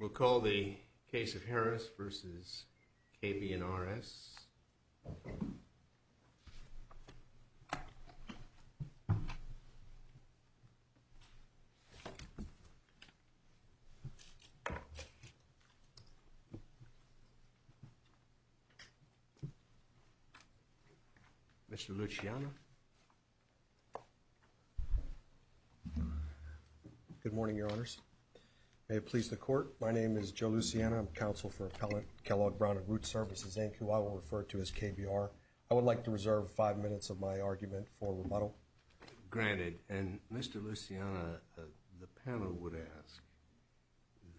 We'll call the case of Harris v. KB&RS. Mr. Luciano. Good morning, Your Honors. May it please the court, my name is Joe Luciano, I'm counsel for Appellant Kellogg Brown&Root Services Inc., who I will refer to as KBR. I would like to reserve five minutes of my argument for rebuttal. Granted. And Mr. Luciano, the panel would ask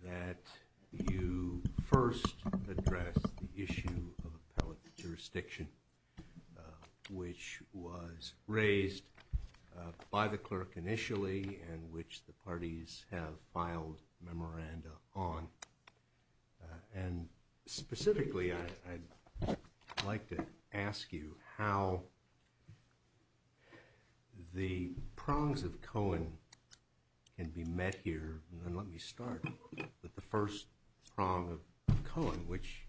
that you first address the issue of appellate jurisdiction, which was raised by the clerk initially and which the parties have filed memoranda on. And specifically, I'd like to ask you how the prongs of Cohen can be met here, and let me start with the first prong of Cohen, which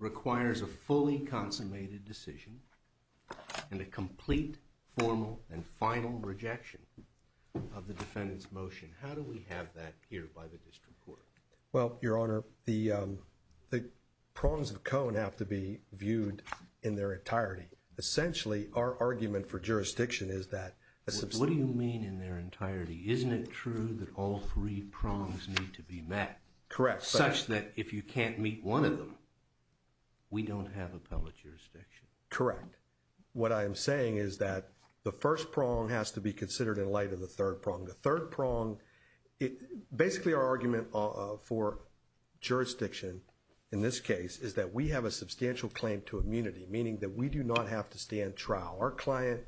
requires a fully consummated decision and a complete, formal, and final rejection of the defendant's motion. How do we have that here by the district court? Well, Your Honor, the prongs of Cohen have to be viewed in their entirety. Essentially, our argument for jurisdiction is that a substantial... What do you mean in their entirety? Isn't it true that all three prongs need to be met? Correct. Such that if you can't meet one of them, we don't have appellate jurisdiction. Correct. What I am saying is that the first prong has to be considered in light of the third prong. The third prong, basically our argument for jurisdiction in this case is that we have a substantial claim to immunity, meaning that we do not have to stand trial. Our client,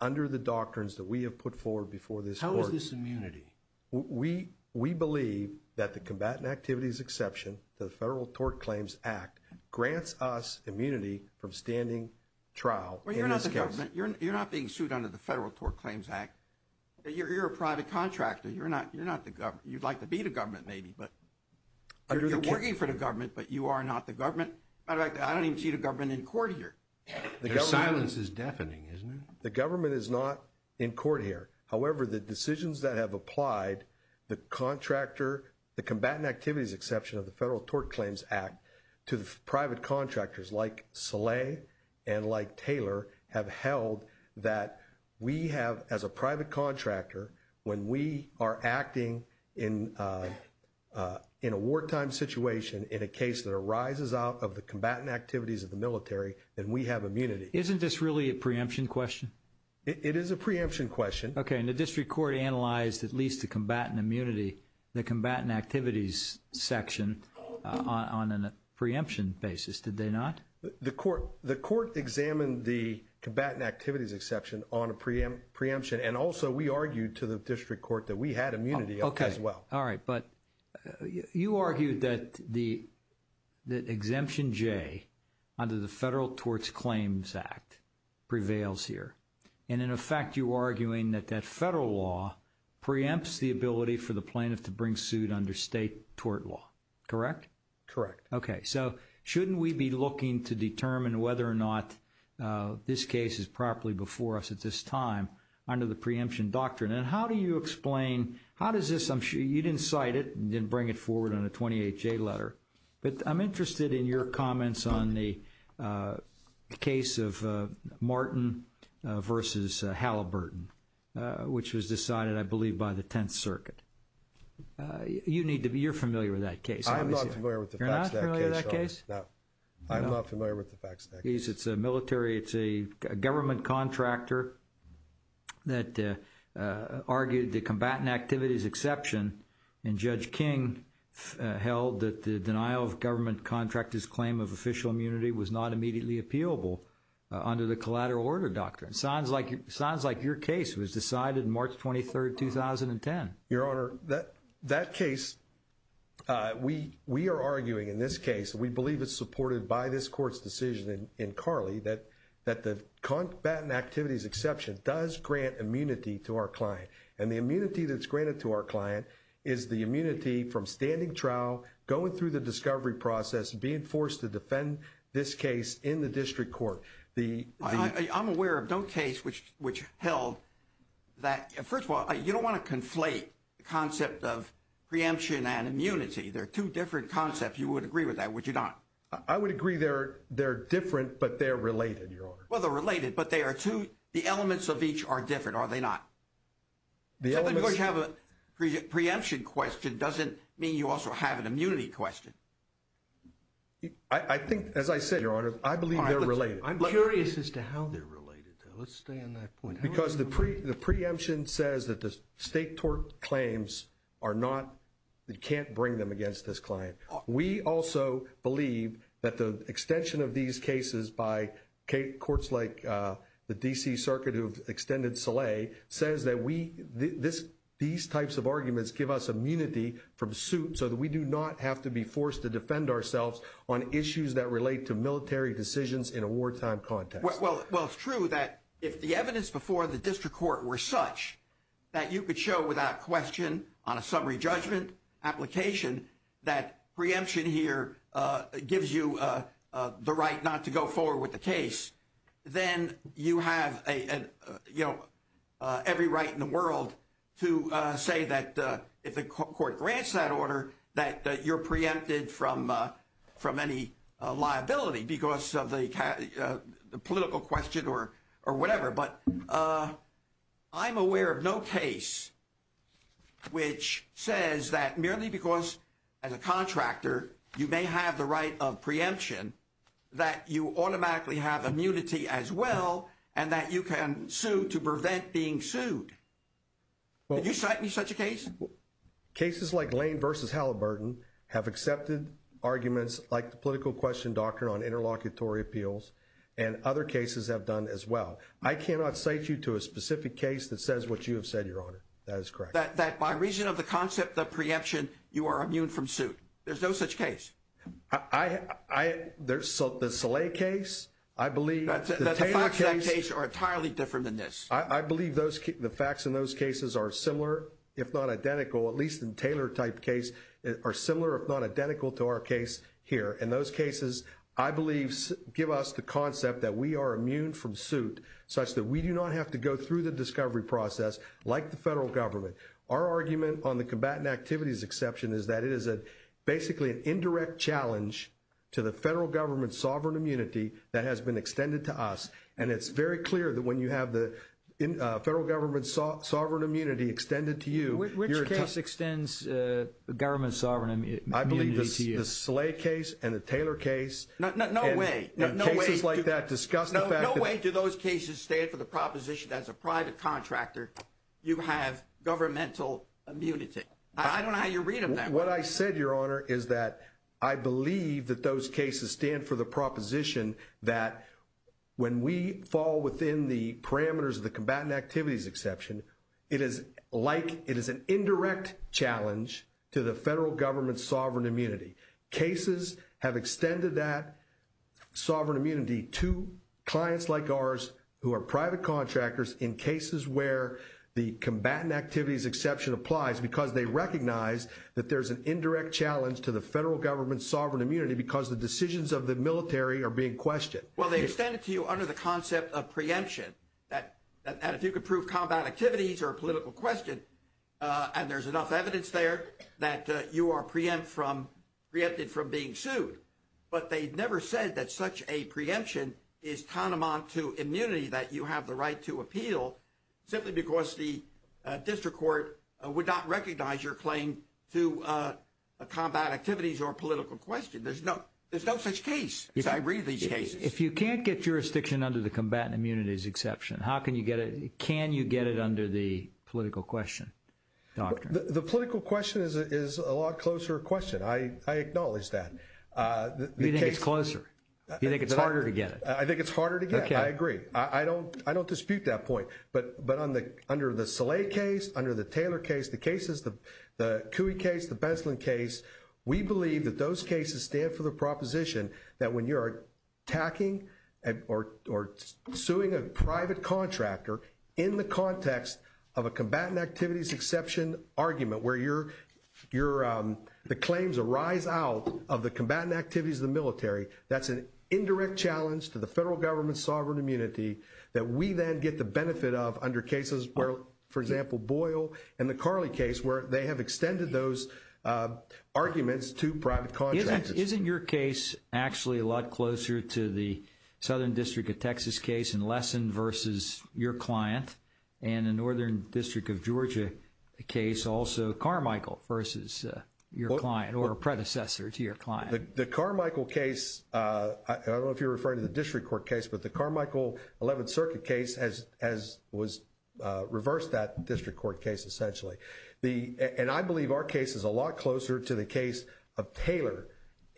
under the doctrines that we have put forward before this court... How is this immunity? We believe that the combatant activities exception to the Federal Tort Claims Act grants us immunity from standing trial in this case. You're not being sued under the Federal Tort Claims Act. You're a private contractor. You're not the government. You'd like to be the government maybe, but you're working for the government, but you are not the government. As a matter of fact, I don't even see the government in court here. Their silence is deafening, isn't it? The government is not in court here. However, the decisions that have applied, the contractor, the combatant activities exception of the Federal Tort Claims Act to the private contractors like Salih and like Taylor have held that we have, as a private contractor, when we are acting in a wartime situation in a case that arises out of the combatant activities of the military, then we have immunity. Isn't this really a preemption question? It is a preemption question. Okay. And the district court analyzed at least the combatant immunity, the combatant activities section on a preemption basis, did they not? The court examined the combatant activities exception on a preemption, and also we argued to the district court that we had immunity as well. Okay. All right. But you argued that Exemption J under the Federal Tort Claims Act prevails here, and in effect, you're arguing that that federal law preempts the ability for the plaintiff to bring suit under state tort law, correct? Correct. Okay. So shouldn't we be looking to determine whether or not this case is properly before us at this time under the preemption doctrine? And how do you explain, how does this, you didn't cite it, you didn't bring it forward on a 28-J letter, but I'm interested in your comments on the case of Martin v. Halliburton, which was decided, I believe, by the Tenth Circuit. You need to be, you're familiar with that case. I'm not familiar with the facts of that case, Your Honor. You're not familiar with that case? No. I'm not familiar with the facts of that case. It's a military, it's a government contractor that argued the combatant activities exception, and Judge King held that the denial of government contractors' claim of official immunity was not immediately appealable under the collateral order doctrine. Sounds like your case was decided March 23, 2010. Your Honor, that case, we are arguing in this case, we believe it's supported by this court's decision in Carley, that the combatant activities exception does grant immunity to our client. And the immunity that's granted to our client is the immunity from standing trial, going through the discovery process, being forced to defend this case in the district court. I'm aware of no case which held that, first of all, you don't want to conflate the concept of preemption and immunity. They're two different concepts. You would agree with that, would you not? I would agree they're different, but they're related, Your Honor. Well, they're related, but they are two, the elements of each are different, are they not? The element... Just because you have a preemption question doesn't mean you also have an immunity question. I think, as I said, Your Honor, I believe they're related. I'm curious as to how they're related, though. Let's stay on that point. Because the preemption says that the state tort claims are not, you can't bring them against this client. We also believe that the extension of these cases by courts like the D.C. Circuit, who have extended Salih, says that these types of arguments give us immunity from suit, so that we do not have to be forced to defend ourselves on issues that relate to military decisions in a wartime context. Well, it's true that if the evidence before the district court were such that you could show without question on a summary judgment application that preemption here gives you the right not to go forward with the case, then you have every right in the world to say that if the court grants that order, that you're preempted from any liability because of the political question or whatever. But I'm aware of no case which says that merely because, as a contractor, you may have the right of preemption, that you automatically have immunity as well, and that you can sue to prevent being sued. Can you cite me such a case? Cases like Lane v. Halliburton have accepted arguments like the political question doctrine on interlocutory appeals, and other cases have done as well. I cannot cite you to a specific case that says what you have said, Your Honor. That is correct. That by reason of the concept of preemption, you are immune from suit. There's no such case. The Salih case, I believe, the Taylor case. The facts of that case are entirely different than this. I believe the facts in those cases are similar, if not identical, at least in the Taylor-type case, are similar, if not identical, to our case here. In those cases, I believe, give us the concept that we are immune from suit, such that we do not have to go through the discovery process like the federal government. Our argument on the combatant activities exception is that it is basically an indirect challenge to the federal government's sovereign immunity that has been extended to us, and it's very clear that when you have the federal government's sovereign immunity extended to you, your case extends the government's sovereign immunity to you. I believe the Salih case and the Taylor case and cases like that discuss the fact that No way do those cases stand for the proposition that as a private contractor, you have governmental immunity. I don't know how you read them. What I said, Your Honor, is that I believe that those cases stand for the proposition that when we fall within the parameters of the combatant activities exception, it is like, it is an indirect challenge to the federal government's sovereign immunity. Cases have extended that sovereign immunity to clients like ours who are private contractors in cases where the combatant activities exception applies because they recognize that there's an indirect challenge to the federal government's sovereign immunity because the decisions of the military are being questioned. Well, they extend it to you under the concept of preemption, that if you could prove combat activities or a political question, and there's enough evidence there that you are preempted from being sued, but they've never said that such a preemption is tantamount to immunity that you have the right to appeal simply because the district court would not recognize your claim to combat activities or a political question. There's no such case. I read these cases. If you can't get jurisdiction under the combatant immunities exception, how can you get it? Can you get it under the political question, Doctor? The political question is a lot closer question. I acknowledge that. You think it's closer? You think it's harder to get it? I think it's harder to get. I agree. I don't dispute that point. But under the Sallet case, under the Taylor case, the cases, the Cooey case, the Benslin case, we believe that those cases stand for the proposition that when you're attacking or suing a private contractor in the context of a combatant activities exception argument where the claims arise out of the combatant activities of the military, that's an indirect challenge to the federal government's sovereign immunity that we then get the benefit of under cases where, for example, Boyle and the Carley case where they have extended those arguments to private contractors. Isn't your case actually a lot closer to the Southern District of Texas case in Lessin versus your client and the Northern District of Georgia case also Carmichael versus your client or a predecessor to your client? The Carmichael case, I don't know if you're referring to the district court case, but the Carmichael 11th Circuit case has reversed that district court case essentially. And I believe our case is a lot closer to the case of Taylor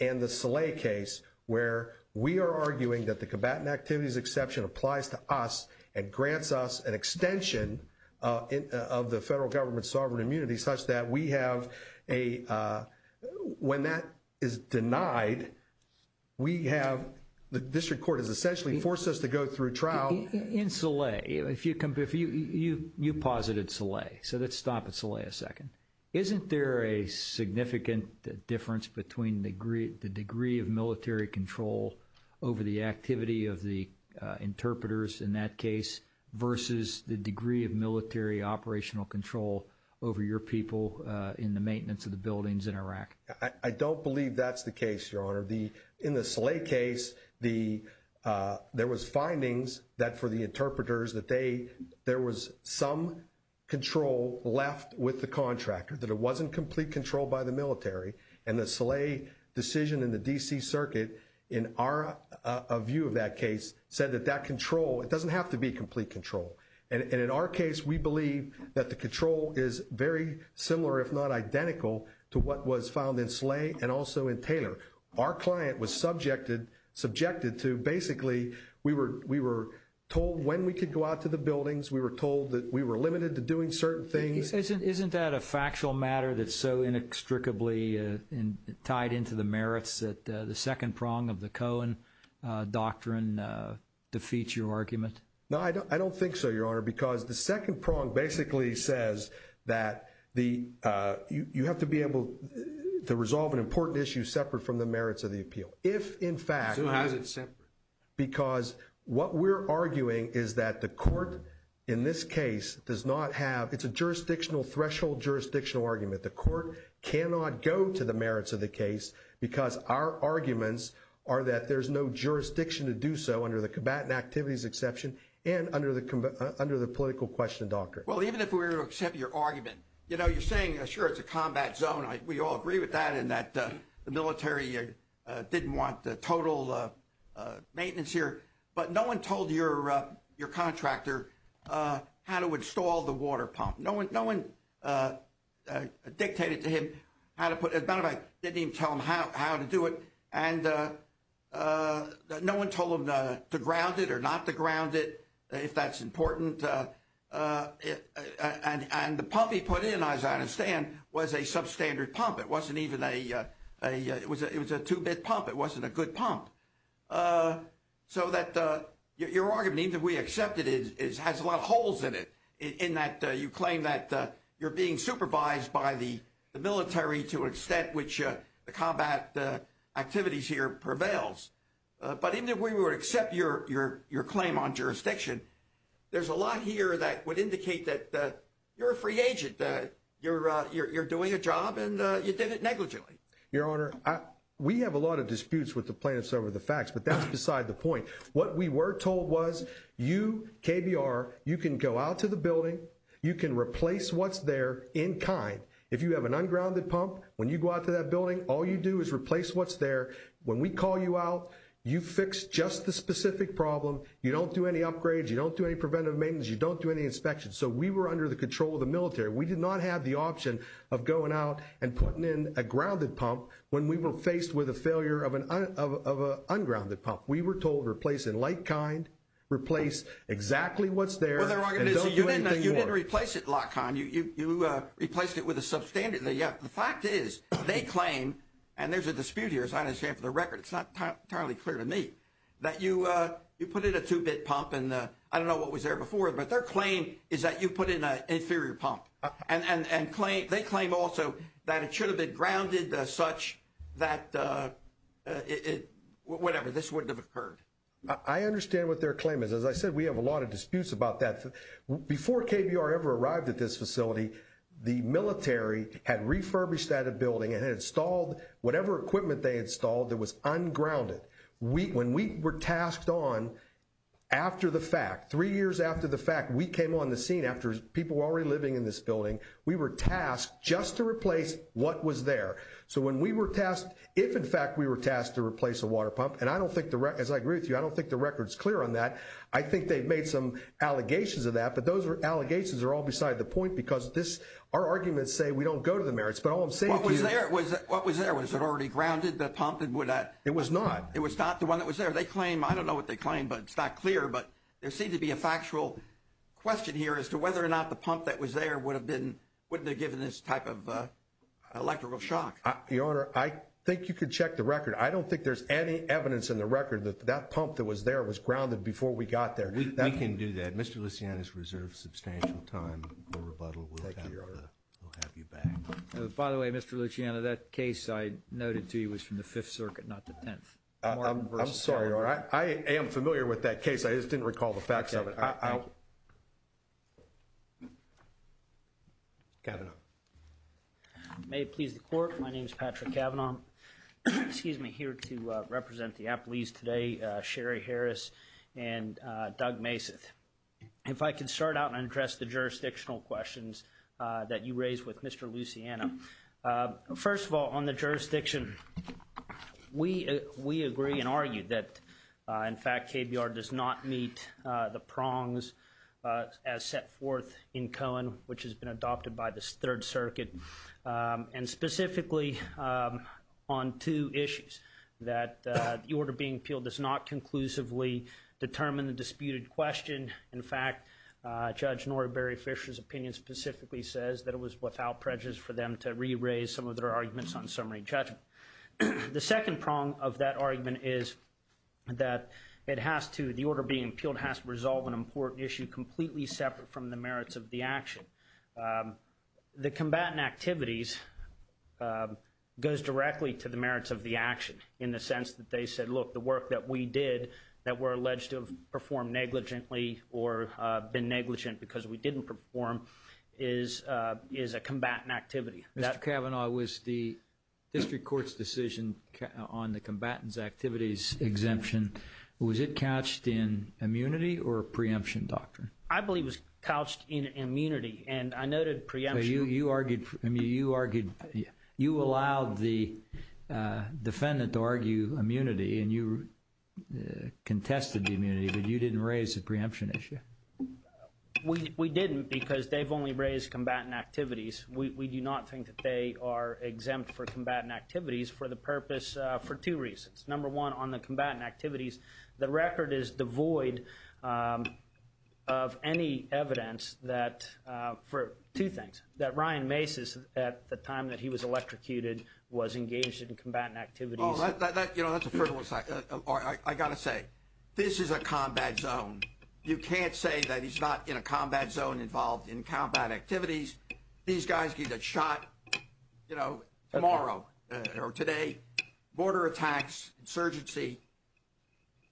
and the Sallet case where we are arguing that the combatant activities exception applies to us and grants us an extension of the federal government's sovereign immunity such that we have a, when that is denied, we have, the district court has essentially forced us to go through trial. In Sallet, if you, you posited Sallet, so let's stop at Sallet a second. Isn't there a significant difference between the degree of military control over the activity of the interpreters in that case versus the degree of military operational control over your people in the maintenance of the buildings in Iraq? I don't believe that's the case, Your Honor. In the Sallet case, there was findings that for the interpreters that there was some control left with the contractor, that it wasn't complete control by the military. And the Sallet decision in the D.C. Circuit, in our view of that case, said that that control, it doesn't have to be complete control. And in our case, we believe that the control is very similar if not identical to what was found in Slay and also in Taylor. Our client was subjected to basically, we were told when we could go out to the buildings, we were told that we were limited to doing certain things. Isn't that a factual matter that's so inextricably tied into the merits that the second prong of the Cohen doctrine defeats your argument? No, I don't think so, Your Honor, because the second prong basically says that the, you have to be able to resolve an important issue separate from the merits of the appeal. If in fact, because what we're arguing is that the court in this case does not have, it's a jurisdictional threshold, jurisdictional argument. The court cannot go to the merits of the case because our arguments are that there's no jurisdiction to do so under the combatant activities exception and under the political question doctrine. Well, even if we were to accept your argument, you know, you're saying, sure, it's a combat zone. We all agree with that in that the military didn't want the total maintenance here. But no one told your contractor how to install the water pump. No one dictated to him how to put, as a matter of fact, didn't even tell him how to do it. And no one told him to ground it or not to ground it, if that's important. And the pump he put in, as I understand, was a substandard pump. It wasn't even a, it was a two-bit pump. It wasn't a good pump. So that your argument, even if we accept it, it has a lot of holes in it in that you claim that you're being supervised by the military to an extent which the combat activities here prevails. But even if we were to accept your claim on jurisdiction, there's a lot here that would indicate that you're a free agent, that you're doing a job and you did it negligently. Your Honor, we have a lot of disputes with the plaintiffs over the facts, but that's beside the point. What we were told was, you, KBR, you can go out to the building, you can replace what's there in kind. If you have an ungrounded pump, when you go out to that building, all you do is replace what's there. When we call you out, you fix just the specific problem. You don't do any upgrades, you don't do any preventive maintenance, you don't do any inspection. So we were under the control of the military. We did not have the option of going out and putting in a grounded pump when we were faced with a failure of an ungrounded pump. We were told, replace in like kind, replace exactly what's there, and don't do anything more. You didn't replace it in like kind. You replaced it with a substandard. The fact is, they claim, and there's a dispute here, as I understand from the record, it's not entirely clear to me, that you put in a two-bit pump, and I don't know what was there before, but their claim is that you put in an inferior pump. And they claim also that it should have been grounded such that it, whatever, this wouldn't have occurred. I understand what their claim is. As I said, we have a lot of disputes about that. Before KBR ever arrived at this facility, the military had refurbished that building and had installed whatever equipment they installed that was ungrounded. When we were tasked on, after the fact, three years after the fact, we came on the scene after people were already living in this building, we were tasked just to replace what was there. So when we were tasked, if in fact we were tasked to replace a water pump, and I don't think, as I agree with you, I don't think the record's clear on that, I think they've made some allegations of that, but those allegations are all beside the point because this, our arguments say we don't go to the merits, but all I'm saying to you- What was there? Was it already grounded? The pump? It was not. It was not the one that was there. They claim, I don't know what they claim, but it's not clear, but there seems to be a factual question here as to whether or not the pump that was there would have been, wouldn't have given this type of electrical shock. Your Honor, I think you could check the record. I don't think there's any evidence in the record that that pump that was there was grounded before we got there. We can do that. Mr. Luciano's reserved substantial time for rebuttal. We'll have you back. By the way, Mr. Luciano, that case I noted to you was from the Fifth Circuit, not the Tenth. I'm sorry, Your Honor. I am familiar with that case. I just didn't recall the facts of it. Kavanaugh. May it please the Court, my name is Patrick Kavanaugh, excuse me, here to represent the apologies today, Sherry Harris and Doug Maseth. If I can start out and address the jurisdictional questions that you raised with Mr. Luciano. First of all, on the jurisdiction, we agree and argue that, in fact, KBR does not meet the prongs as set forth in Cohen, which has been adopted by the Third Circuit, and specifically on two issues, that the order being appealed does not conclusively determine the disputed question. In fact, Judge Norah Berry Fisher's opinion specifically says that it was without prejudice for them to re-raise some of their arguments on summary judgment. The second prong of that argument is that it has to, the order being appealed has to resolve an important issue completely separate from the merits of the action. The combatant activities goes directly to the merits of the action, in the sense that they said, look, the work that we did that we're alleged to have performed negligently or been negligent because we didn't perform is a combatant activity. Mr. Cavanaugh, was the district court's decision on the combatant's activities exemption, was it couched in immunity or preemption doctrine? I believe it was couched in immunity, and I noted preemption. You argued, you allowed the defendant to argue immunity and you contested the immunity, but you didn't raise the preemption issue. We didn't because they've only raised combatant activities. We do not think that they are exempt for combatant activities for the purpose, for two reasons. Number one, on the combatant activities, the record is devoid of any evidence that, for two things, that Ryan Macy's, at the time that he was electrocuted, was engaged in combatant activities. Oh, that's a frivolous, I got to say, this is a combat zone. You can't say that he's not in a combat zone involved in combat activities. These guys get a shot tomorrow or today, border attacks, insurgency.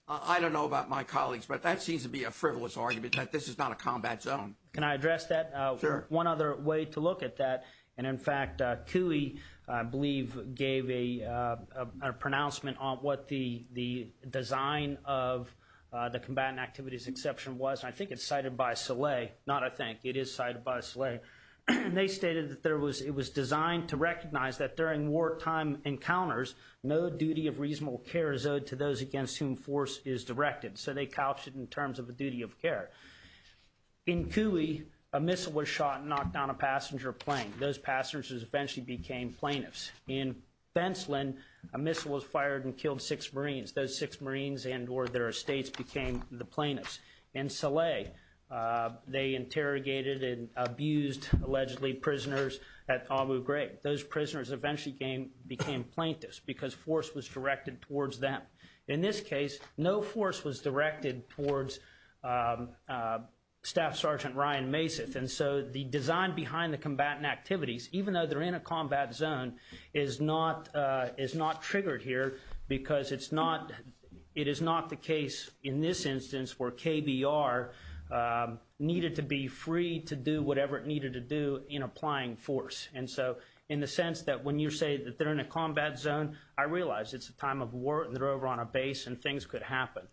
I don't know about my colleagues, but that seems to be a frivolous argument that this is not a combat zone. Can I address that? Sure. One other way to look at that, and in fact, Cooey, I believe, gave a pronouncement on what the design of the combatant activities exception was. I think it's cited by Soleil. Not I think. It is cited by Soleil. They stated that it was designed to recognize that during wartime encounters, no duty of reasonable care is owed to those against whom force is directed. So they couched it in terms of a duty of care. In Cooey, a missile was shot and knocked down a passenger plane. Those passengers eventually became plaintiffs. In Fensland, a missile was fired and killed six Marines. Those six Marines and or their estates became the plaintiffs. In Soleil, they interrogated and abused, allegedly, prisoners at Abu Ghraib. Those prisoners eventually became plaintiffs because force was directed towards them. In this case, no force was directed towards Staff Sergeant Ryan Maseth. And so the design behind the combatant activities, even though they're in a combat zone, is not triggered here because it is not the case in this instance where KBR needed to be free to do whatever it needed to do in applying force. And so in the sense that when you say that they're in a combat zone, I realize it's a time of war and they're over on a base and things could happen.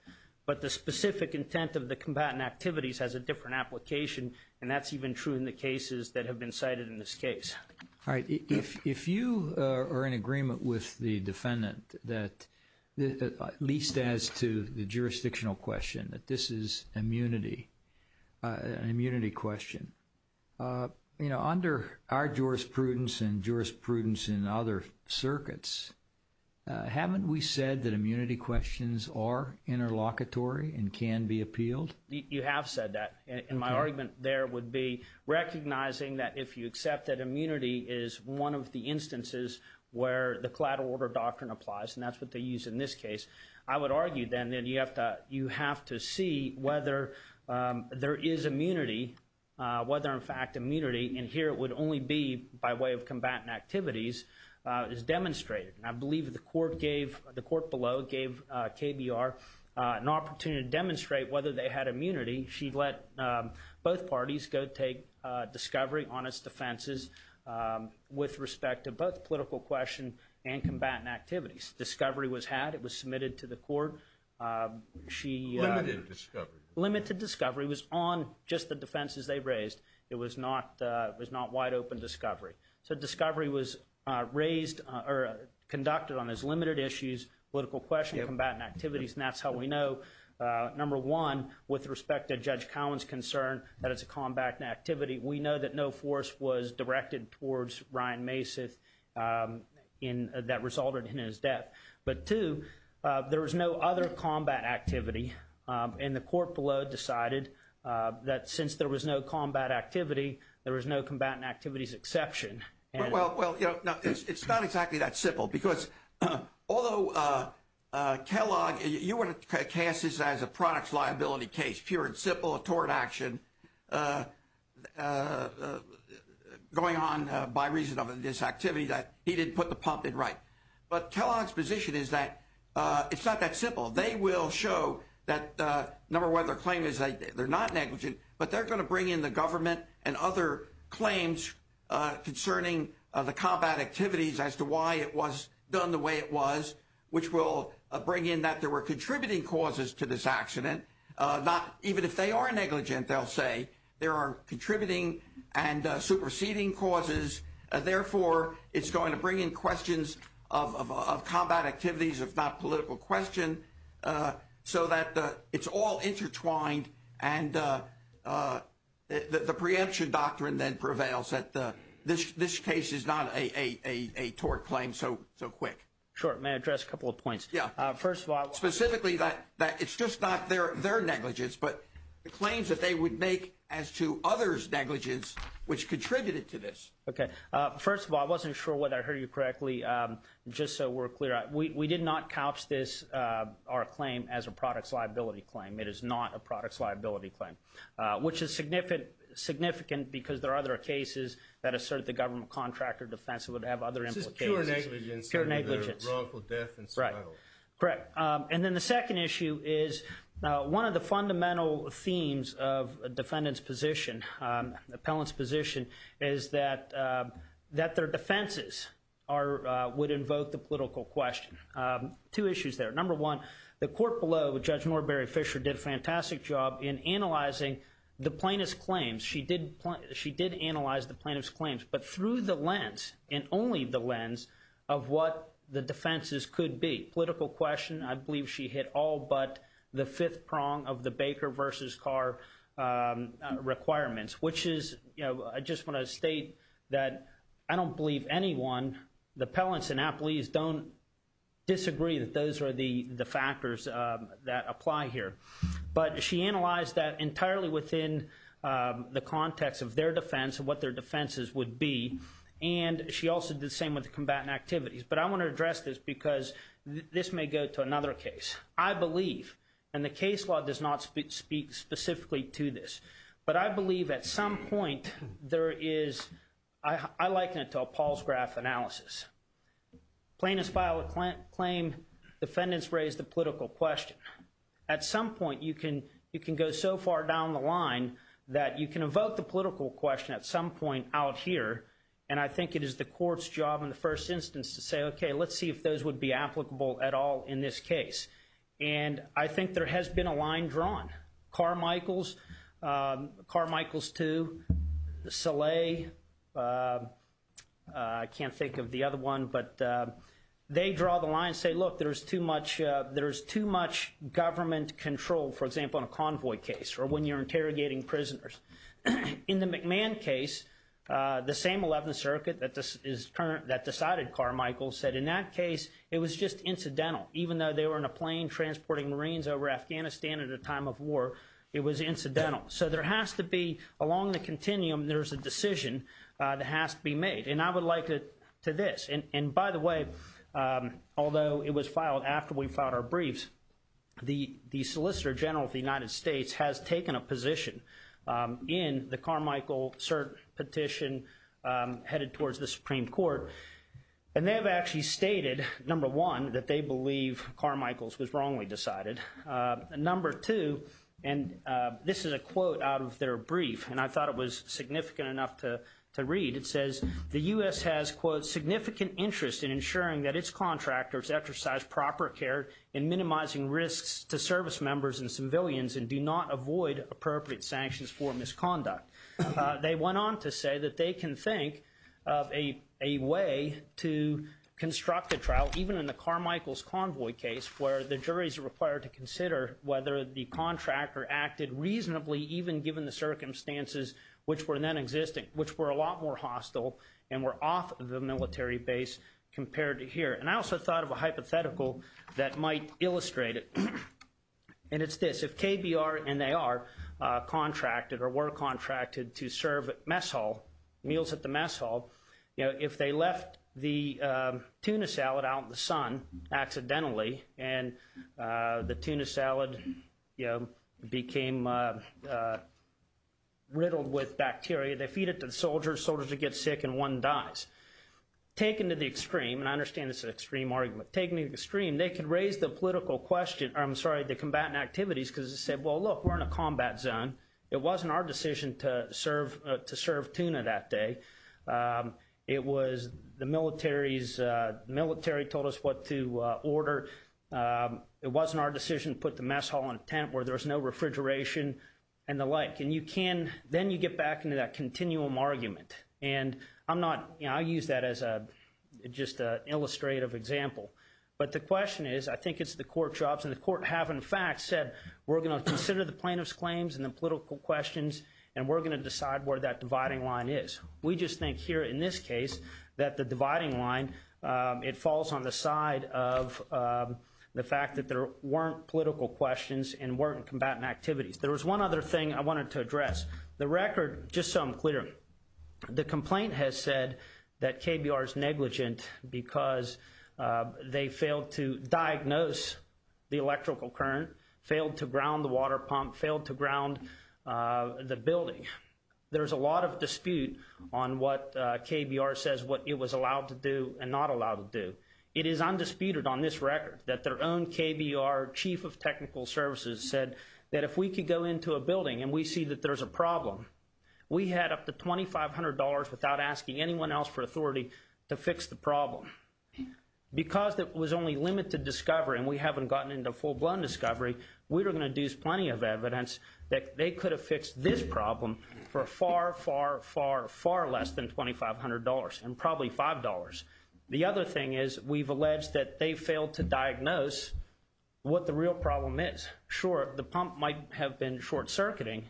But the specific intent of the combatant activities has a different application. And that's even true in the cases that have been cited in this case. All right. If you are in agreement with the defendant that, at least as to the jurisdictional question, that this is immunity, an immunity question, you know, under our jurisprudence and jurisprudence in other circuits, haven't we said that immunity questions are interlocutory and can be appealed? You have said that. And my argument there would be recognizing that if you accept that immunity is one of the instances where the collateral order doctrine applies, and that's what they use in this case, I would argue then that you have to see whether there is immunity, whether in And here it would only be by way of combatant activities is demonstrated. I believe the court below gave KBR an opportunity to demonstrate whether they had immunity. She let both parties go take discovery on its defenses with respect to both political question and combatant activities. Discovery was had. It was submitted to the court. Limited discovery. Limited discovery. It was on just the defenses they raised. It was not wide open discovery. So discovery was raised or conducted on as limited issues, political question, combatant activities, and that's how we know, number one, with respect to Judge Cowen's concern that it's a combatant activity, we know that no force was directed towards Ryan Maseth that resulted in his death. But two, there was no other combat activity, and the court below decided that since there was no combat activity, there was no combatant activities exception. Well, you know, it's not exactly that simple because although Kellogg, you want to cast this as a product liability case, pure and simple, a tort action going on by reason of this activity that he didn't put the pump in right. But Kellogg's position is that it's not that simple. They will show that, number one, their claim is they're not negligent, but they're going to bring in the government and other claims concerning the combat activities as to why it was done the way it was, which will bring in that there were contributing causes to this accident. Even if they are negligent, they'll say, there are contributing and superseding causes, therefore, it's going to bring in questions of combat activities if not political question so that it's all intertwined and the preemption doctrine then prevails that this case is not a tort claim so quick. Sure. May I address a couple of points? Yeah. First of all- Specifically that it's just not their negligence, but the claims that they would make as to others negligence which contributed to this. Okay. First of all, I wasn't sure whether I heard you correctly, just so we're clear. We did not couch this, our claim, as a products liability claim. It is not a products liability claim, which is significant because there are other cases that assert the government contractor defense that would have other implications. It's just pure negligence. Pure negligence. Either wrongful death and survival. Correct. And then the second issue is one of the fundamental themes of a defendant's position, appellant's position, that their defenses would invoke the political question. Two issues there. Number one, the court below, Judge Norberry Fisher, did a fantastic job in analyzing the plaintiff's claims. She did analyze the plaintiff's claims, but through the lens, and only the lens, of what the defenses could be. Political question, I believe she hit all but the fifth prong of the Baker v. Carr requirements, which is, I just want to state that I don't believe anyone, the appellants and appellees don't disagree that those are the factors that apply here. But she analyzed that entirely within the context of their defense and what their defenses would be. And she also did the same with the combatant activities. But I want to address this because this may go to another case. I believe, and the case law does not speak specifically to this. But I believe at some point there is, I liken it to a Paul's graph analysis. Plaintiffs file a claim, defendants raise the political question. At some point, you can go so far down the line that you can invoke the political question at some point out here, and I think it is the court's job in the first instance to say, okay, let's see if those would be applicable at all in this case. And I think there has been a line drawn. Carmichael's, Carmichael's 2, Sallet, I can't think of the other one, but they draw the line and say, look, there's too much government control, for example, in a convoy case or when you're interrogating prisoners. In the McMahon case, the same 11th Circuit that decided Carmichael said in that case it was just incidental, even though they were in a plane transporting Marines over Afghanistan at a time of war, it was incidental. So there has to be, along the continuum, there's a decision that has to be made. And I would liken it to this. And by the way, although it was filed after we filed our briefs, the Solicitor General of the United States has taken a position in the Carmichael cert petition headed towards the Supreme Court. And they have actually stated, number one, that they believe Carmichael's was wrongly decided. Number two, and this is a quote out of their brief, and I thought it was significant enough to read. It says, the U.S. has, quote, significant interest in ensuring that its contractors exercise proper care in minimizing risks to service members and civilians and do not avoid appropriate sanctions for misconduct. They went on to say that they can think of a way to construct a trial, even in the Carmichael's convoy case, where the jury is required to consider whether the contractor acted reasonably, even given the circumstances which were then existing, which were a lot more hostile and were off of the military base compared to here. And I also thought of a hypothetical that might illustrate it. And it's this. If KBR and they are contracted or were contracted to serve at mess hall, meals at the mess hall, if they left the tuna salad out in the sun accidentally and the tuna salad became riddled with bacteria, they feed it to the soldiers, soldiers would get sick and one dies. Taken to the extreme, and I understand it's an extreme argument, taken to the extreme, they could raise the political question, I'm sorry, the combatant activities, because they said, well, look, we're in a combat zone. It wasn't our decision to serve tuna that day. It was the military's, the military told us what to order. It wasn't our decision to put the mess hall in a tent where there was no refrigeration and the like. And you can, then you get back into that continuum argument. And I'm not, you know, I use that as just an illustrative example. But the question is, I think it's the court jobs, and the court have in fact said, we're going to consider the plaintiff's claims and the political questions, and we're going to decide where that dividing line is. We just think here in this case that the dividing line, it falls on the side of the fact that there weren't political questions and weren't combatant activities. There was one other thing I wanted to address. The record, just so I'm clear, the complaint has said that KBR is negligent because they failed to diagnose the electrical current, failed to ground the water pump, failed to ground the building. There's a lot of dispute on what KBR says what it was allowed to do and not allowed to do. It is undisputed on this record that their own KBR chief of technical services said that if we could go into a building and we see that there's a problem, we had up to $2,500 without asking anyone else for authority to fix the problem. Because there was only limited discovery and we haven't gotten into full-blown discovery, we are going to deduce plenty of evidence that they could have fixed this problem for far, far, far, far less than $2,500, and probably $5. The other thing is we've alleged that they failed to diagnose what the real problem is. Sure, the pump might have been short-circuiting,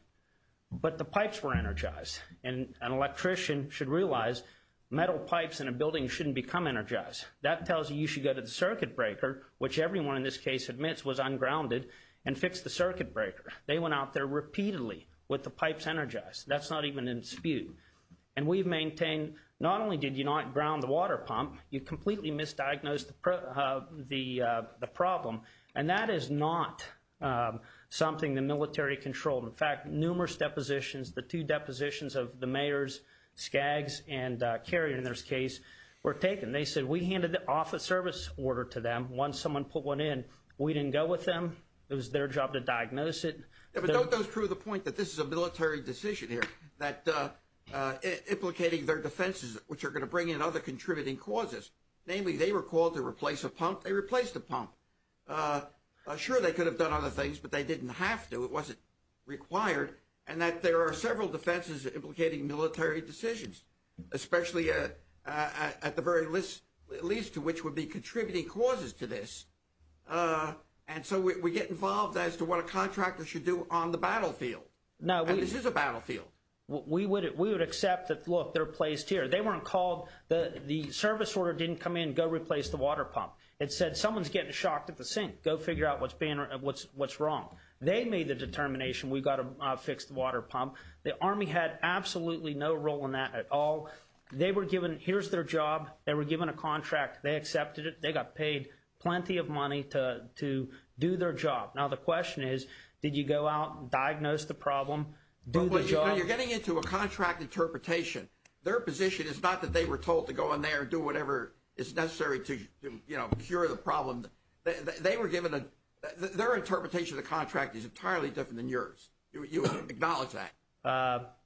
but the pipes were energized, and an electrician should realize metal pipes in a building shouldn't become energized. That tells you you should go to the circuit breaker, which everyone in this case admits was ungrounded, and fix the circuit breaker. They went out there repeatedly with the pipes energized. That's not even in dispute. And we've maintained not only did you not ground the water pump, you completely misdiagnosed the problem, and that is not something the military controlled. In fact, numerous depositions, the two depositions of the mayors, Skaggs and Kerry in this case, were taken. They said, we handed the office service order to them, once someone put one in, we didn't go with them. It was their job to diagnose it. But don't go through the point that this is a military decision here, that implicating their defenses, which are going to bring in other contributing causes, namely they were called to replace a pump, they replaced the pump. Sure, they could have done other things, but they didn't have to, it wasn't required. And that there are several defenses implicating military decisions, especially at the very least to which would be contributing causes to this. And so we get involved as to what a contractor should do on the battlefield. And this is a battlefield. We would accept that, look, they're placed here. They weren't called, the service order didn't come in, go replace the water pump. It said, someone's getting shocked at the sink, go figure out what's wrong. They made the determination, we've got to fix the water pump. The Army had absolutely no role in that at all. They were given, here's their job, they were given a contract, they accepted it, they got paid plenty of money to do their job. Now the question is, did you go out and diagnose the problem, do the job? You're getting into a contract interpretation. Their position is not that they were told to go in there and do whatever is necessary to cure the problem. They were given a, their interpretation of the contract is entirely different than yours. You acknowledge that?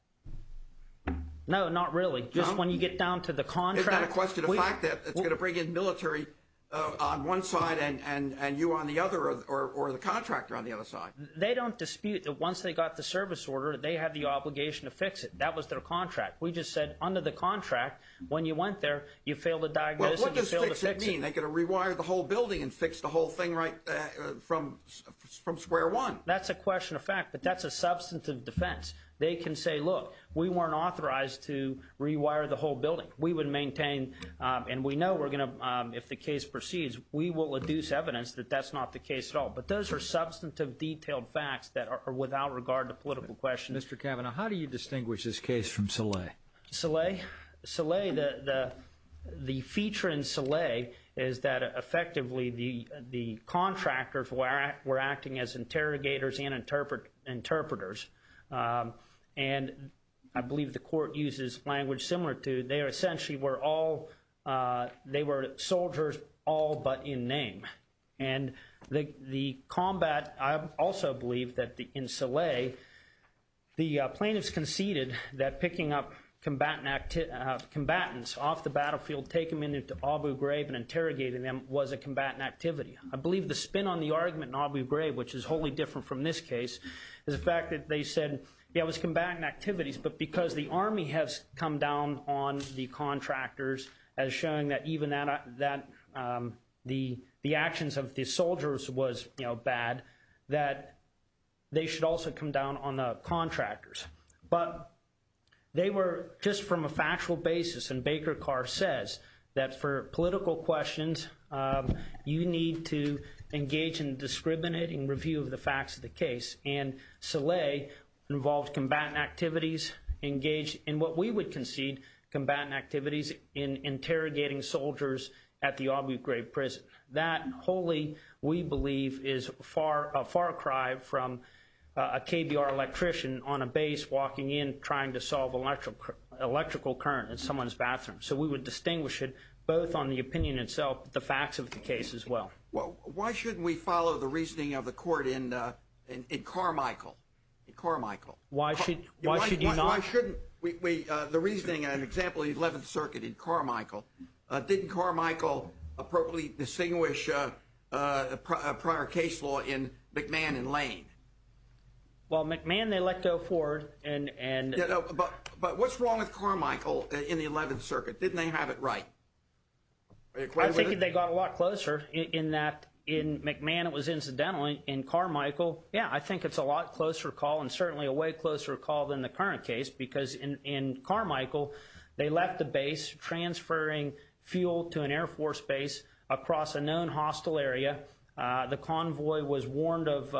No, not really. Just when you get down to the contract. Isn't that a question of fact, that it's going to bring in military on one side and you on the other, or the contractor on the other side? They don't dispute that once they got the service order, they had the obligation to fix it. That was their contract. We just said, under the contract, when you went there, you failed to diagnose it, you What does fix it mean? They got to rewire the whole building and fix the whole thing right from square one. That's a question of fact, but that's a substantive defense. They can say, look, we weren't authorized to rewire the whole building. We would maintain, and we know we're going to, if the case proceeds, we will adduce evidence that that's not the case at all. But those are substantive, detailed facts that are without regard to political questions. Mr. Cavanaugh, how do you distinguish this case from Soleil? Soleil? Soleil, the feature in Soleil is that, effectively, the contractors were acting as interrogators and interpreters. And I believe the court uses language similar to, they essentially were all, they were soldiers all but in name. And the combat, I also believe that in Soleil, the plaintiffs conceded that picking up combatant combatants off the battlefield, taking them into Abu Ghraib and interrogating them was a combatant activity. I believe the spin on the argument in Abu Ghraib, which is wholly different from this case, is the fact that they said, yeah, it was combatant activities, but because the Army has come down on the contractors as showing that even that the actions of the soldiers was bad, that they should also come down on the contractors. But they were, just from a factual basis, and Baker Carr says that for political questions, you need to engage in discriminating review of the facts of the case, and Soleil involved combatant activities engaged in what we would concede combatant activities in interrogating soldiers at the Abu Ghraib prison. That wholly, we believe, is a far cry from a KBR electrician on a base walking in trying to solve electrical current in someone's bathroom. So we would distinguish it both on the opinion itself, the facts of the case as well. Why shouldn't we follow the reasoning of the court in Carmichael? Why should you not? Why shouldn't we, the reasoning, an example, the 11th Circuit in Carmichael, didn't Carmichael appropriately distinguish a prior case law in McMahon and Lane? Well, McMahon, they let go forward, and... But what's wrong with Carmichael in the 11th Circuit? Didn't they have it right? I think they got a lot closer in that in McMahon, it was incidentally, in Carmichael, yeah, I think it's a lot closer call, and certainly a way closer call than the current case, because in Carmichael, they left the base transferring fuel to an Air Force base across a known hostile area. The convoy was warned of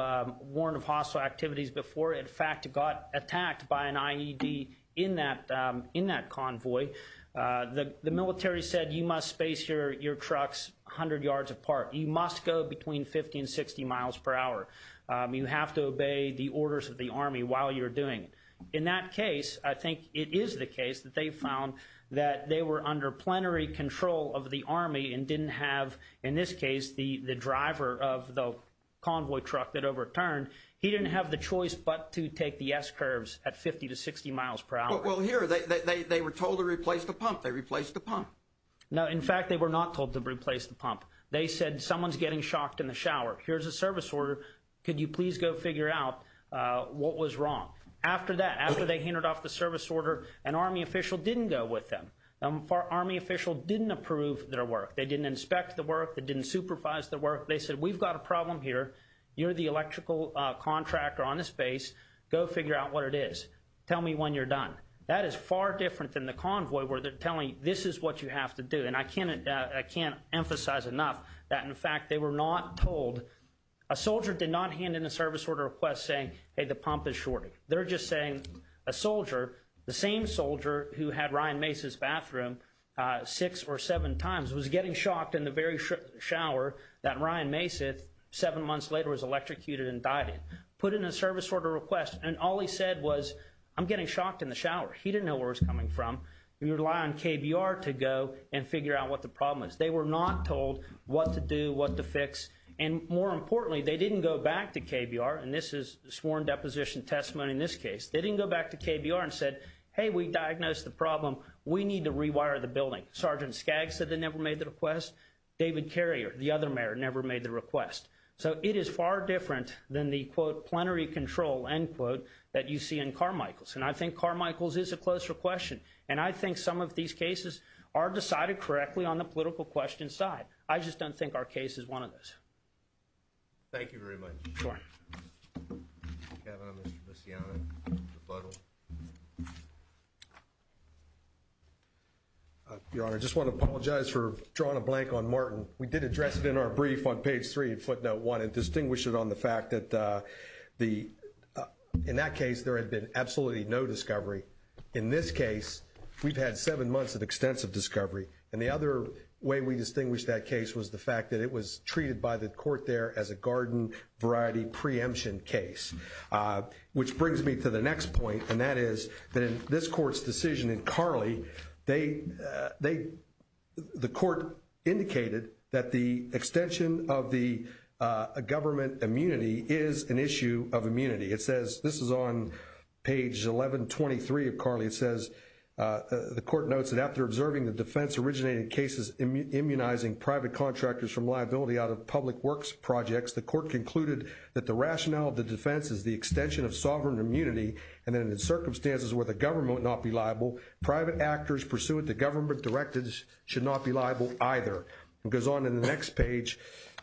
hostile activities before, in fact, it got attacked by an IED in that convoy. The military said, you must space your trucks 100 yards apart. You must go between 50 and 60 miles per hour. You have to obey the orders of the Army while you're doing it. In that case, I think it is the case that they found that they were under plenary control of the Army and didn't have, in this case, the driver of the convoy truck that overturned, he didn't have the choice but to take the S-curves at 50 to 60 miles per hour. Well, here, they were told to replace the pump. They replaced the pump. No, in fact, they were not told to replace the pump. They said, someone's getting shocked in the shower. Here's a service order. Could you please go figure out what was wrong? After that, after they handed off the service order, an Army official didn't go with them. An Army official didn't approve their work. They didn't inspect the work. They didn't supervise the work. They said, we've got a problem here. You're the electrical contractor on this base. Go figure out what it is. Tell me when you're done. That is far different than the convoy where they're telling, this is what you have to do. I can't emphasize enough that, in fact, they were not told. A soldier did not hand in a service order request saying, hey, the pump is shorting. They're just saying, a soldier, the same soldier who had Ryan Mace's bathroom six or seven times was getting shocked in the very shower that Ryan Mace, seven months later, was electrocuted and died in. Put in a service order request, and all he said was, I'm getting shocked in the shower. He didn't know where it was coming from. We rely on KBR to go and figure out what the problem is. They were not told what to do, what to fix. And more importantly, they didn't go back to KBR, and this is sworn deposition testimony in this case. They didn't go back to KBR and said, hey, we diagnosed the problem. We need to rewire the building. Sergeant Skaggs said they never made the request. David Carrier, the other mayor, never made the request. So it is far different than the, quote, plenary control, end quote, that you see in Carmichael's. And I think Carmichael's is a closer question. And I think some of these cases are decided correctly on the political question side. I just don't think our case is one of those. Thank you very much. Sure. Kevin, I'm Mr. Messiano, Mr. Butler. Your Honor, I just want to apologize for drawing a blank on Martin. We did address it in our brief on page three in footnote one and distinguished it on the fact that the, in that case, there had been absolutely no discovery. In this case, we've had seven months of extensive discovery. And the other way we distinguished that case was the fact that it was treated by the court there as a garden variety preemption case. Which brings me to the next point, and that is that in this court's decision in Carley, the court indicated that the extension of the government immunity is an issue of immunity. It says, this is on page 1123 of Carley, it says, the court notes that after observing the defense originated cases immunizing private contractors from liability out of public works projects, the court concluded that the rationale of the defense is the extension of sovereign immunity. And then in circumstances where the government would not be liable, private actors pursuant to government directives should not be liable either. It goes on in the next page,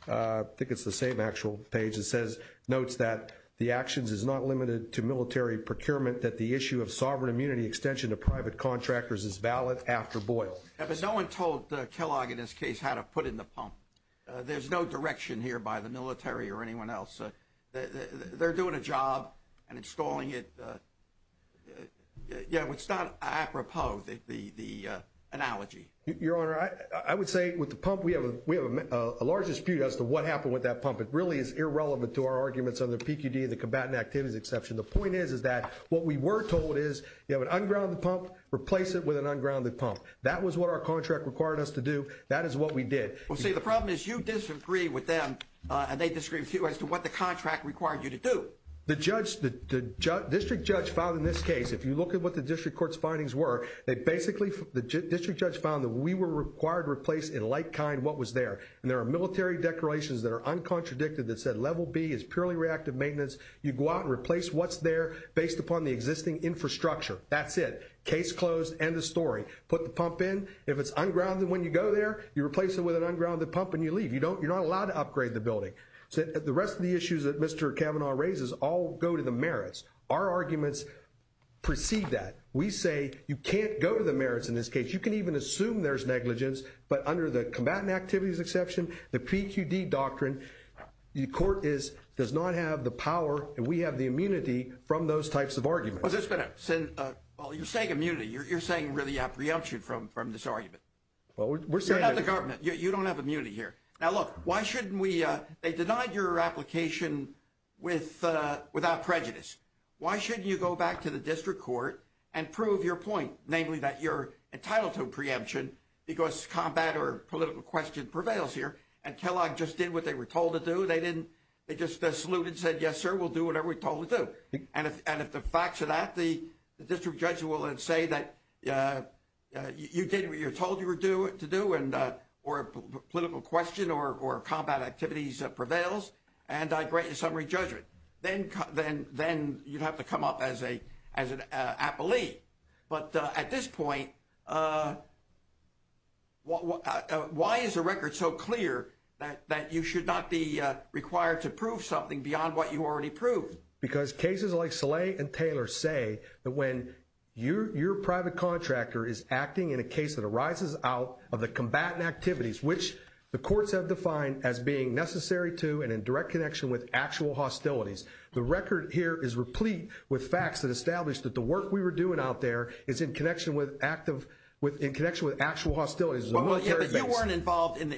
I think it's the same actual page, it says, notes that the actions is not limited to military procurement, that the issue of sovereign immunity extension to private contractors is valid after Boyle. Yeah, but no one told Kellogg in this case how to put in the pump. There's no direction here by the military or anyone else. They're doing a job and installing it, yeah, it's not apropos the analogy. Your Honor, I would say with the pump, we have a large dispute as to what happened with that pump. It really is irrelevant to our arguments on the PQD and the combatant activities exception. The point is, is that what we were told is you have an ungrounded pump, replace it with an ungrounded pump. That was what our contract required us to do. That is what we did. Well, see, the problem is you disagree with them and they disagree with you as to what the contract required you to do. The judge, the district judge filed in this case, if you look at what the district court's findings were, they basically, the district judge found that we were required to replace in like kind what was there. There are military declarations that are uncontradicted that said level B is purely reactive maintenance. You go out and replace what's there based upon the existing infrastructure. That's it. Case closed, end of story. Put the pump in. If it's ungrounded when you go there, you replace it with an ungrounded pump and you leave. You're not allowed to upgrade the building. The rest of the issues that Mr. Kavanaugh raises all go to the merits. Our arguments precede that. We say you can't go to the merits in this case. You can even assume there's negligence, but under the combatant activities exception, the PQD doctrine, the court does not have the power and we have the immunity from those types of arguments. Well, you're saying immunity. You're saying really you have preemption from this argument. Well, we're saying- You don't have the government. You don't have immunity here. Now look, why shouldn't we, they denied your application without prejudice. Why shouldn't you go back to the district court and prove your point, namely that you're entitled to a preemption because combat or political question prevails here and Kellogg just did what they were told to do. They didn't, they just saluted and said, yes, sir, we'll do whatever we're told to do. And if the facts of that, the district judge will then say that you did what you're told you were to do or a political question or combat activities prevails and I grant you summary judgment. Then you'd have to come up as an appellee. But at this point, why is the record so clear that you should not be required to prove something beyond what you already proved? Because cases like Salih and Taylor say that when your private contractor is acting in a case that arises out of the combatant activities, which the courts have defined as being necessary to and in direct connection with actual hostilities, the record here is replete with facts that the work we were doing out there is in connection with active, with in connection with actual hostilities. You weren't involved in the,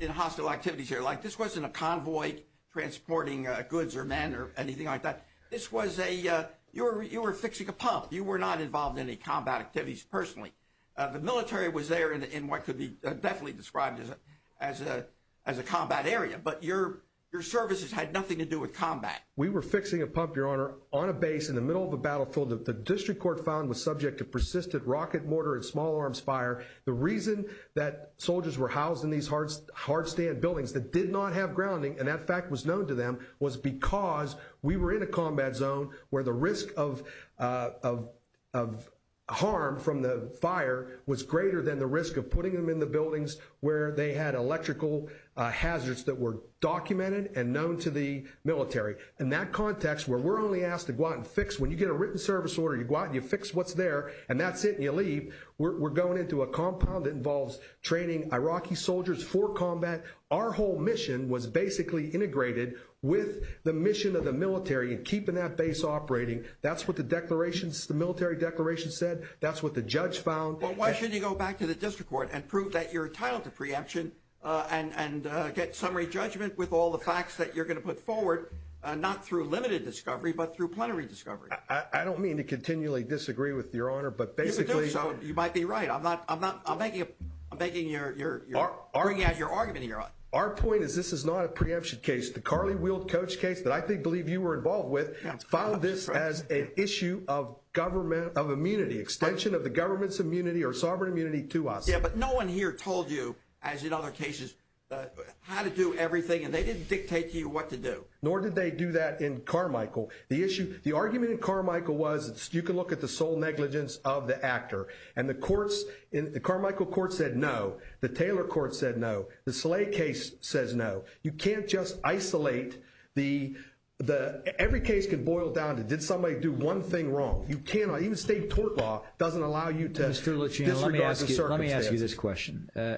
in hostile activities here. Like this wasn't a convoy transporting goods or men or anything like that. This was a, uh, you were, you were fixing a pump. You were not involved in any combat activities personally. The military was there in the, in what could be definitely described as a, as a, as a combat area. But your, your services had nothing to do with combat. We were fixing a pump, your honor, on a base in the middle of a battlefield that the district court found was subject to persistent rocket mortar and small arms fire. The reason that soldiers were housed in these hearts, hard stand buildings that did not have grounding and that fact was known to them was because we were in a combat zone where the risk of, uh, of, of harm from the fire was greater than the risk of putting them in the buildings where they had electrical hazards that were documented and known to the military. In that context where we're only asked to go out and fix, when you get a written service order, you go out and you fix what's there and that's it and you leave. We're going into a compound that involves training Iraqi soldiers for combat. Our whole mission was basically integrated with the mission of the military and keeping that base operating. That's what the declarations, the military declaration said. That's what the judge found. Well, why shouldn't you go back to the district court and prove that you're entitled to preemption, uh, and, and, uh, get summary judgment with all the facts that you're going to put forward, uh, not through limited discovery, but through plenary discovery. I don't mean to continually disagree with your honor, but basically you might be right. I'm not, I'm not, I'm making a, I'm making your, your, your argument here. Our point is this is not a preemption case. The Carly Wield coach case that I think, believe you were involved with found this as a issue of government of immunity, extension of the government's immunity or sovereign immunity to us. Yeah, but no one here told you as in other cases, uh, how to do everything and they didn't dictate to you what to do, nor did they do that in Carmichael. The issue, the argument in Carmichael was you can look at the sole negligence of the actor and the courts in the Carmichael court said no. The Taylor court said no. The slay case says no. You can't just isolate the, the, every case can boil down to, did somebody do one thing wrong? You cannot even state tort law doesn't allow you to, Mr.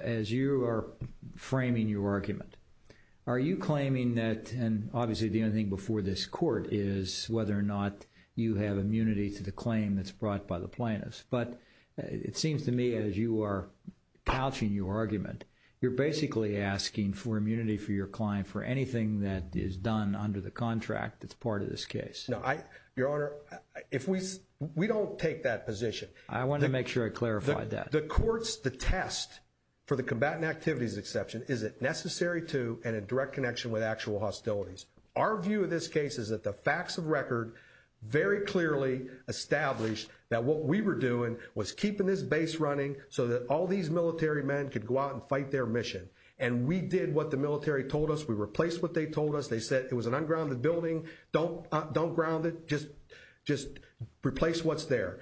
As you are framing your argument, are you claiming that, and obviously the only thing before this court is whether or not you have immunity to the claim that's brought by the plaintiffs. But it seems to me as you are couching your argument, you're basically asking for immunity for your client, for anything that is done under the contract. It's part of this case. No, I, your honor, if we, we don't take that position, I want to make sure I clarified that. The courts, the test for the combatant activities exception, is it necessary to, and in direct connection with actual hostilities. Our view of this case is that the facts of record very clearly established that what we were doing was keeping this base running so that all these military men could go out and fight their mission. And we did what the military told us. We replaced what they told us. They said it was an ungrounded building. Don't, don't ground it. Just, just replace what's there.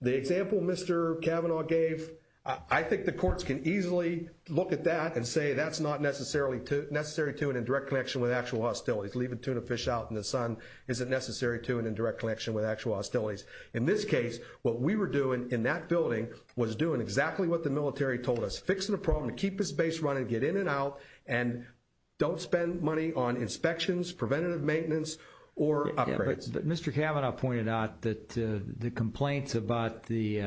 The example Mr. Kavanaugh gave, I think the courts can easily look at that and say that's not necessarily to, necessary to, and in direct connection with actual hostilities. Leaving tuna fish out in the sun isn't necessary to and in direct connection with actual hostilities. In this case, what we were doing in that building was doing exactly what the military told us. Fixing the problem to keep this base running, get in and out, and don't spend money on inspections, preventative maintenance, or upgrades. But Mr. Kavanaugh pointed out that the complaints about the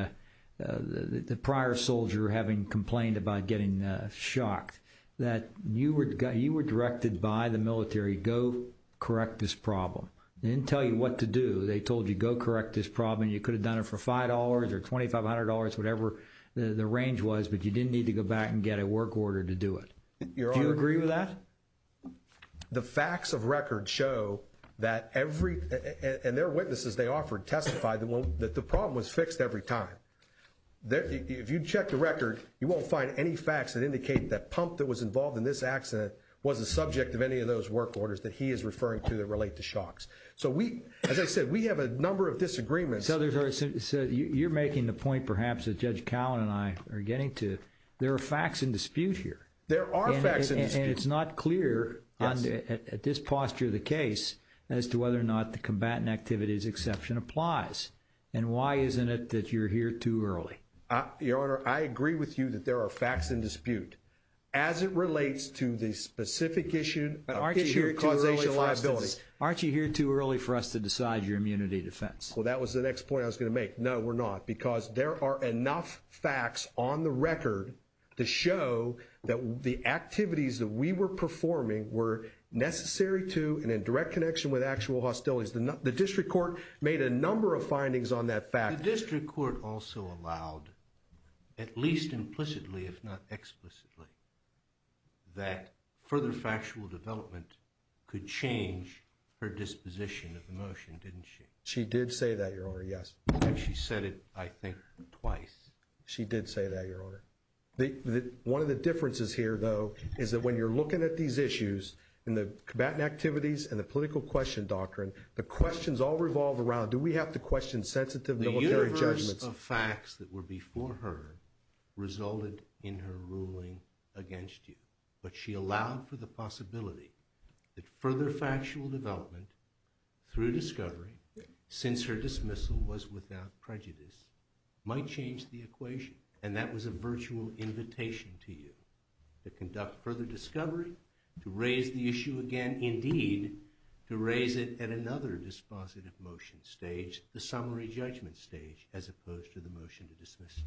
prior soldier having complained about getting shocked, that you were directed by the military, go correct this problem. They didn't tell you what to do. They told you, go correct this problem. You could have done it for $5 or $2,500, whatever the range was, but you didn't need to go back and get a work order to do it. Do you agree with that? The facts of record show that every, and their witnesses they offered testified that the problem was fixed every time. If you check the record, you won't find any facts that indicate that pump that was involved in this accident was a subject of any of those work orders that he is referring to that relate to shocks. So we, as I said, we have a number of disagreements. So you're making the point perhaps that Judge Cowan and I are getting to, there are facts in dispute here. There are facts in dispute. And it's not clear at this posture of the case as to whether or not the combatant activities exception applies. And why isn't it that you're here too early? Your Honor, I agree with you that there are facts in dispute. As it relates to the specific issue of causation liability. Aren't you here too early for us to decide your immunity defense? Well, that was the next point I was going to make. No, we're not. Because there are enough facts on the record to show that the activities that we were performing were necessary to and in direct connection with actual hostilities. The district court made a number of findings on that fact. The district court also allowed, at least implicitly if not explicitly, that further factual development could change her disposition of the motion, didn't she? She did say that, Your Honor, yes. And she said it, I think, twice. She did say that, Your Honor. One of the differences here, though, is that when you're looking at these issues in the combatant activities and the political question doctrine, the questions all revolve around do we have to question sensitive military judgments? The universe of facts that were before her resulted in her ruling against you. But she allowed for the possibility that further factual development through discovery, since her dismissal was without prejudice, might change the equation. And that was a virtual invitation to you, to conduct further discovery, to raise the issue again, indeed, to raise it at another dispositive motion stage, the summary judgment stage, as opposed to the motion to dismiss stage.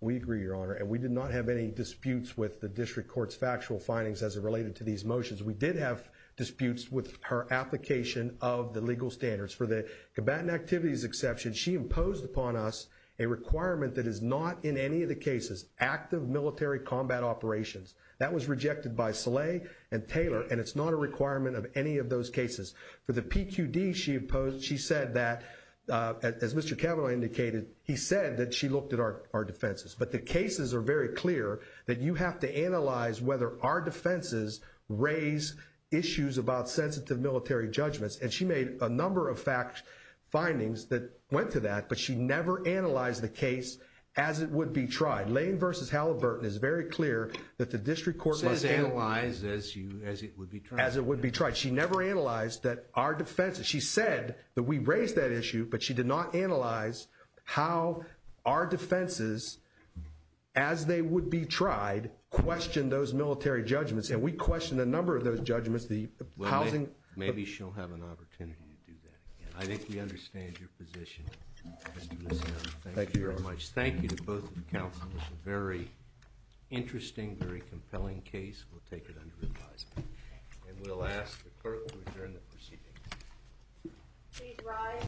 We agree, Your Honor. And we did not have any disputes with the district court's factual findings as it related to these motions. We did have disputes with her application of the legal standards. For the combatant activities exception, she imposed upon us a requirement that is not in any of the cases, active military combat operations. That was rejected by Saleh and Taylor, and it's not a requirement of any of those cases. For the PQD, she said that, as Mr. Cavanaugh indicated, he said that she looked at our defenses. But the cases are very clear that you have to analyze whether our defenses raise issues about sensitive military judgments. And she made a number of fact findings that went to that, but she never analyzed the case as it would be tried. Lane v. Halliburton is very clear that the district court must analyze as it would be tried. As it would be tried. She never analyzed that our defenses, she said that we raised that issue, but she did not analyze how our defenses, as they would be tried, questioned those military judgments. And we questioned a number of those judgments. The housing... Maybe she'll have an opportunity to do that again. I think we understand your position. Thank you very much. Thank you to both of the counselors. Very interesting, very compelling case. We'll take it under advisement. Thank you. Thank you. Thank you. Thank you. Thank you. Thank you. Thank you. Thank you.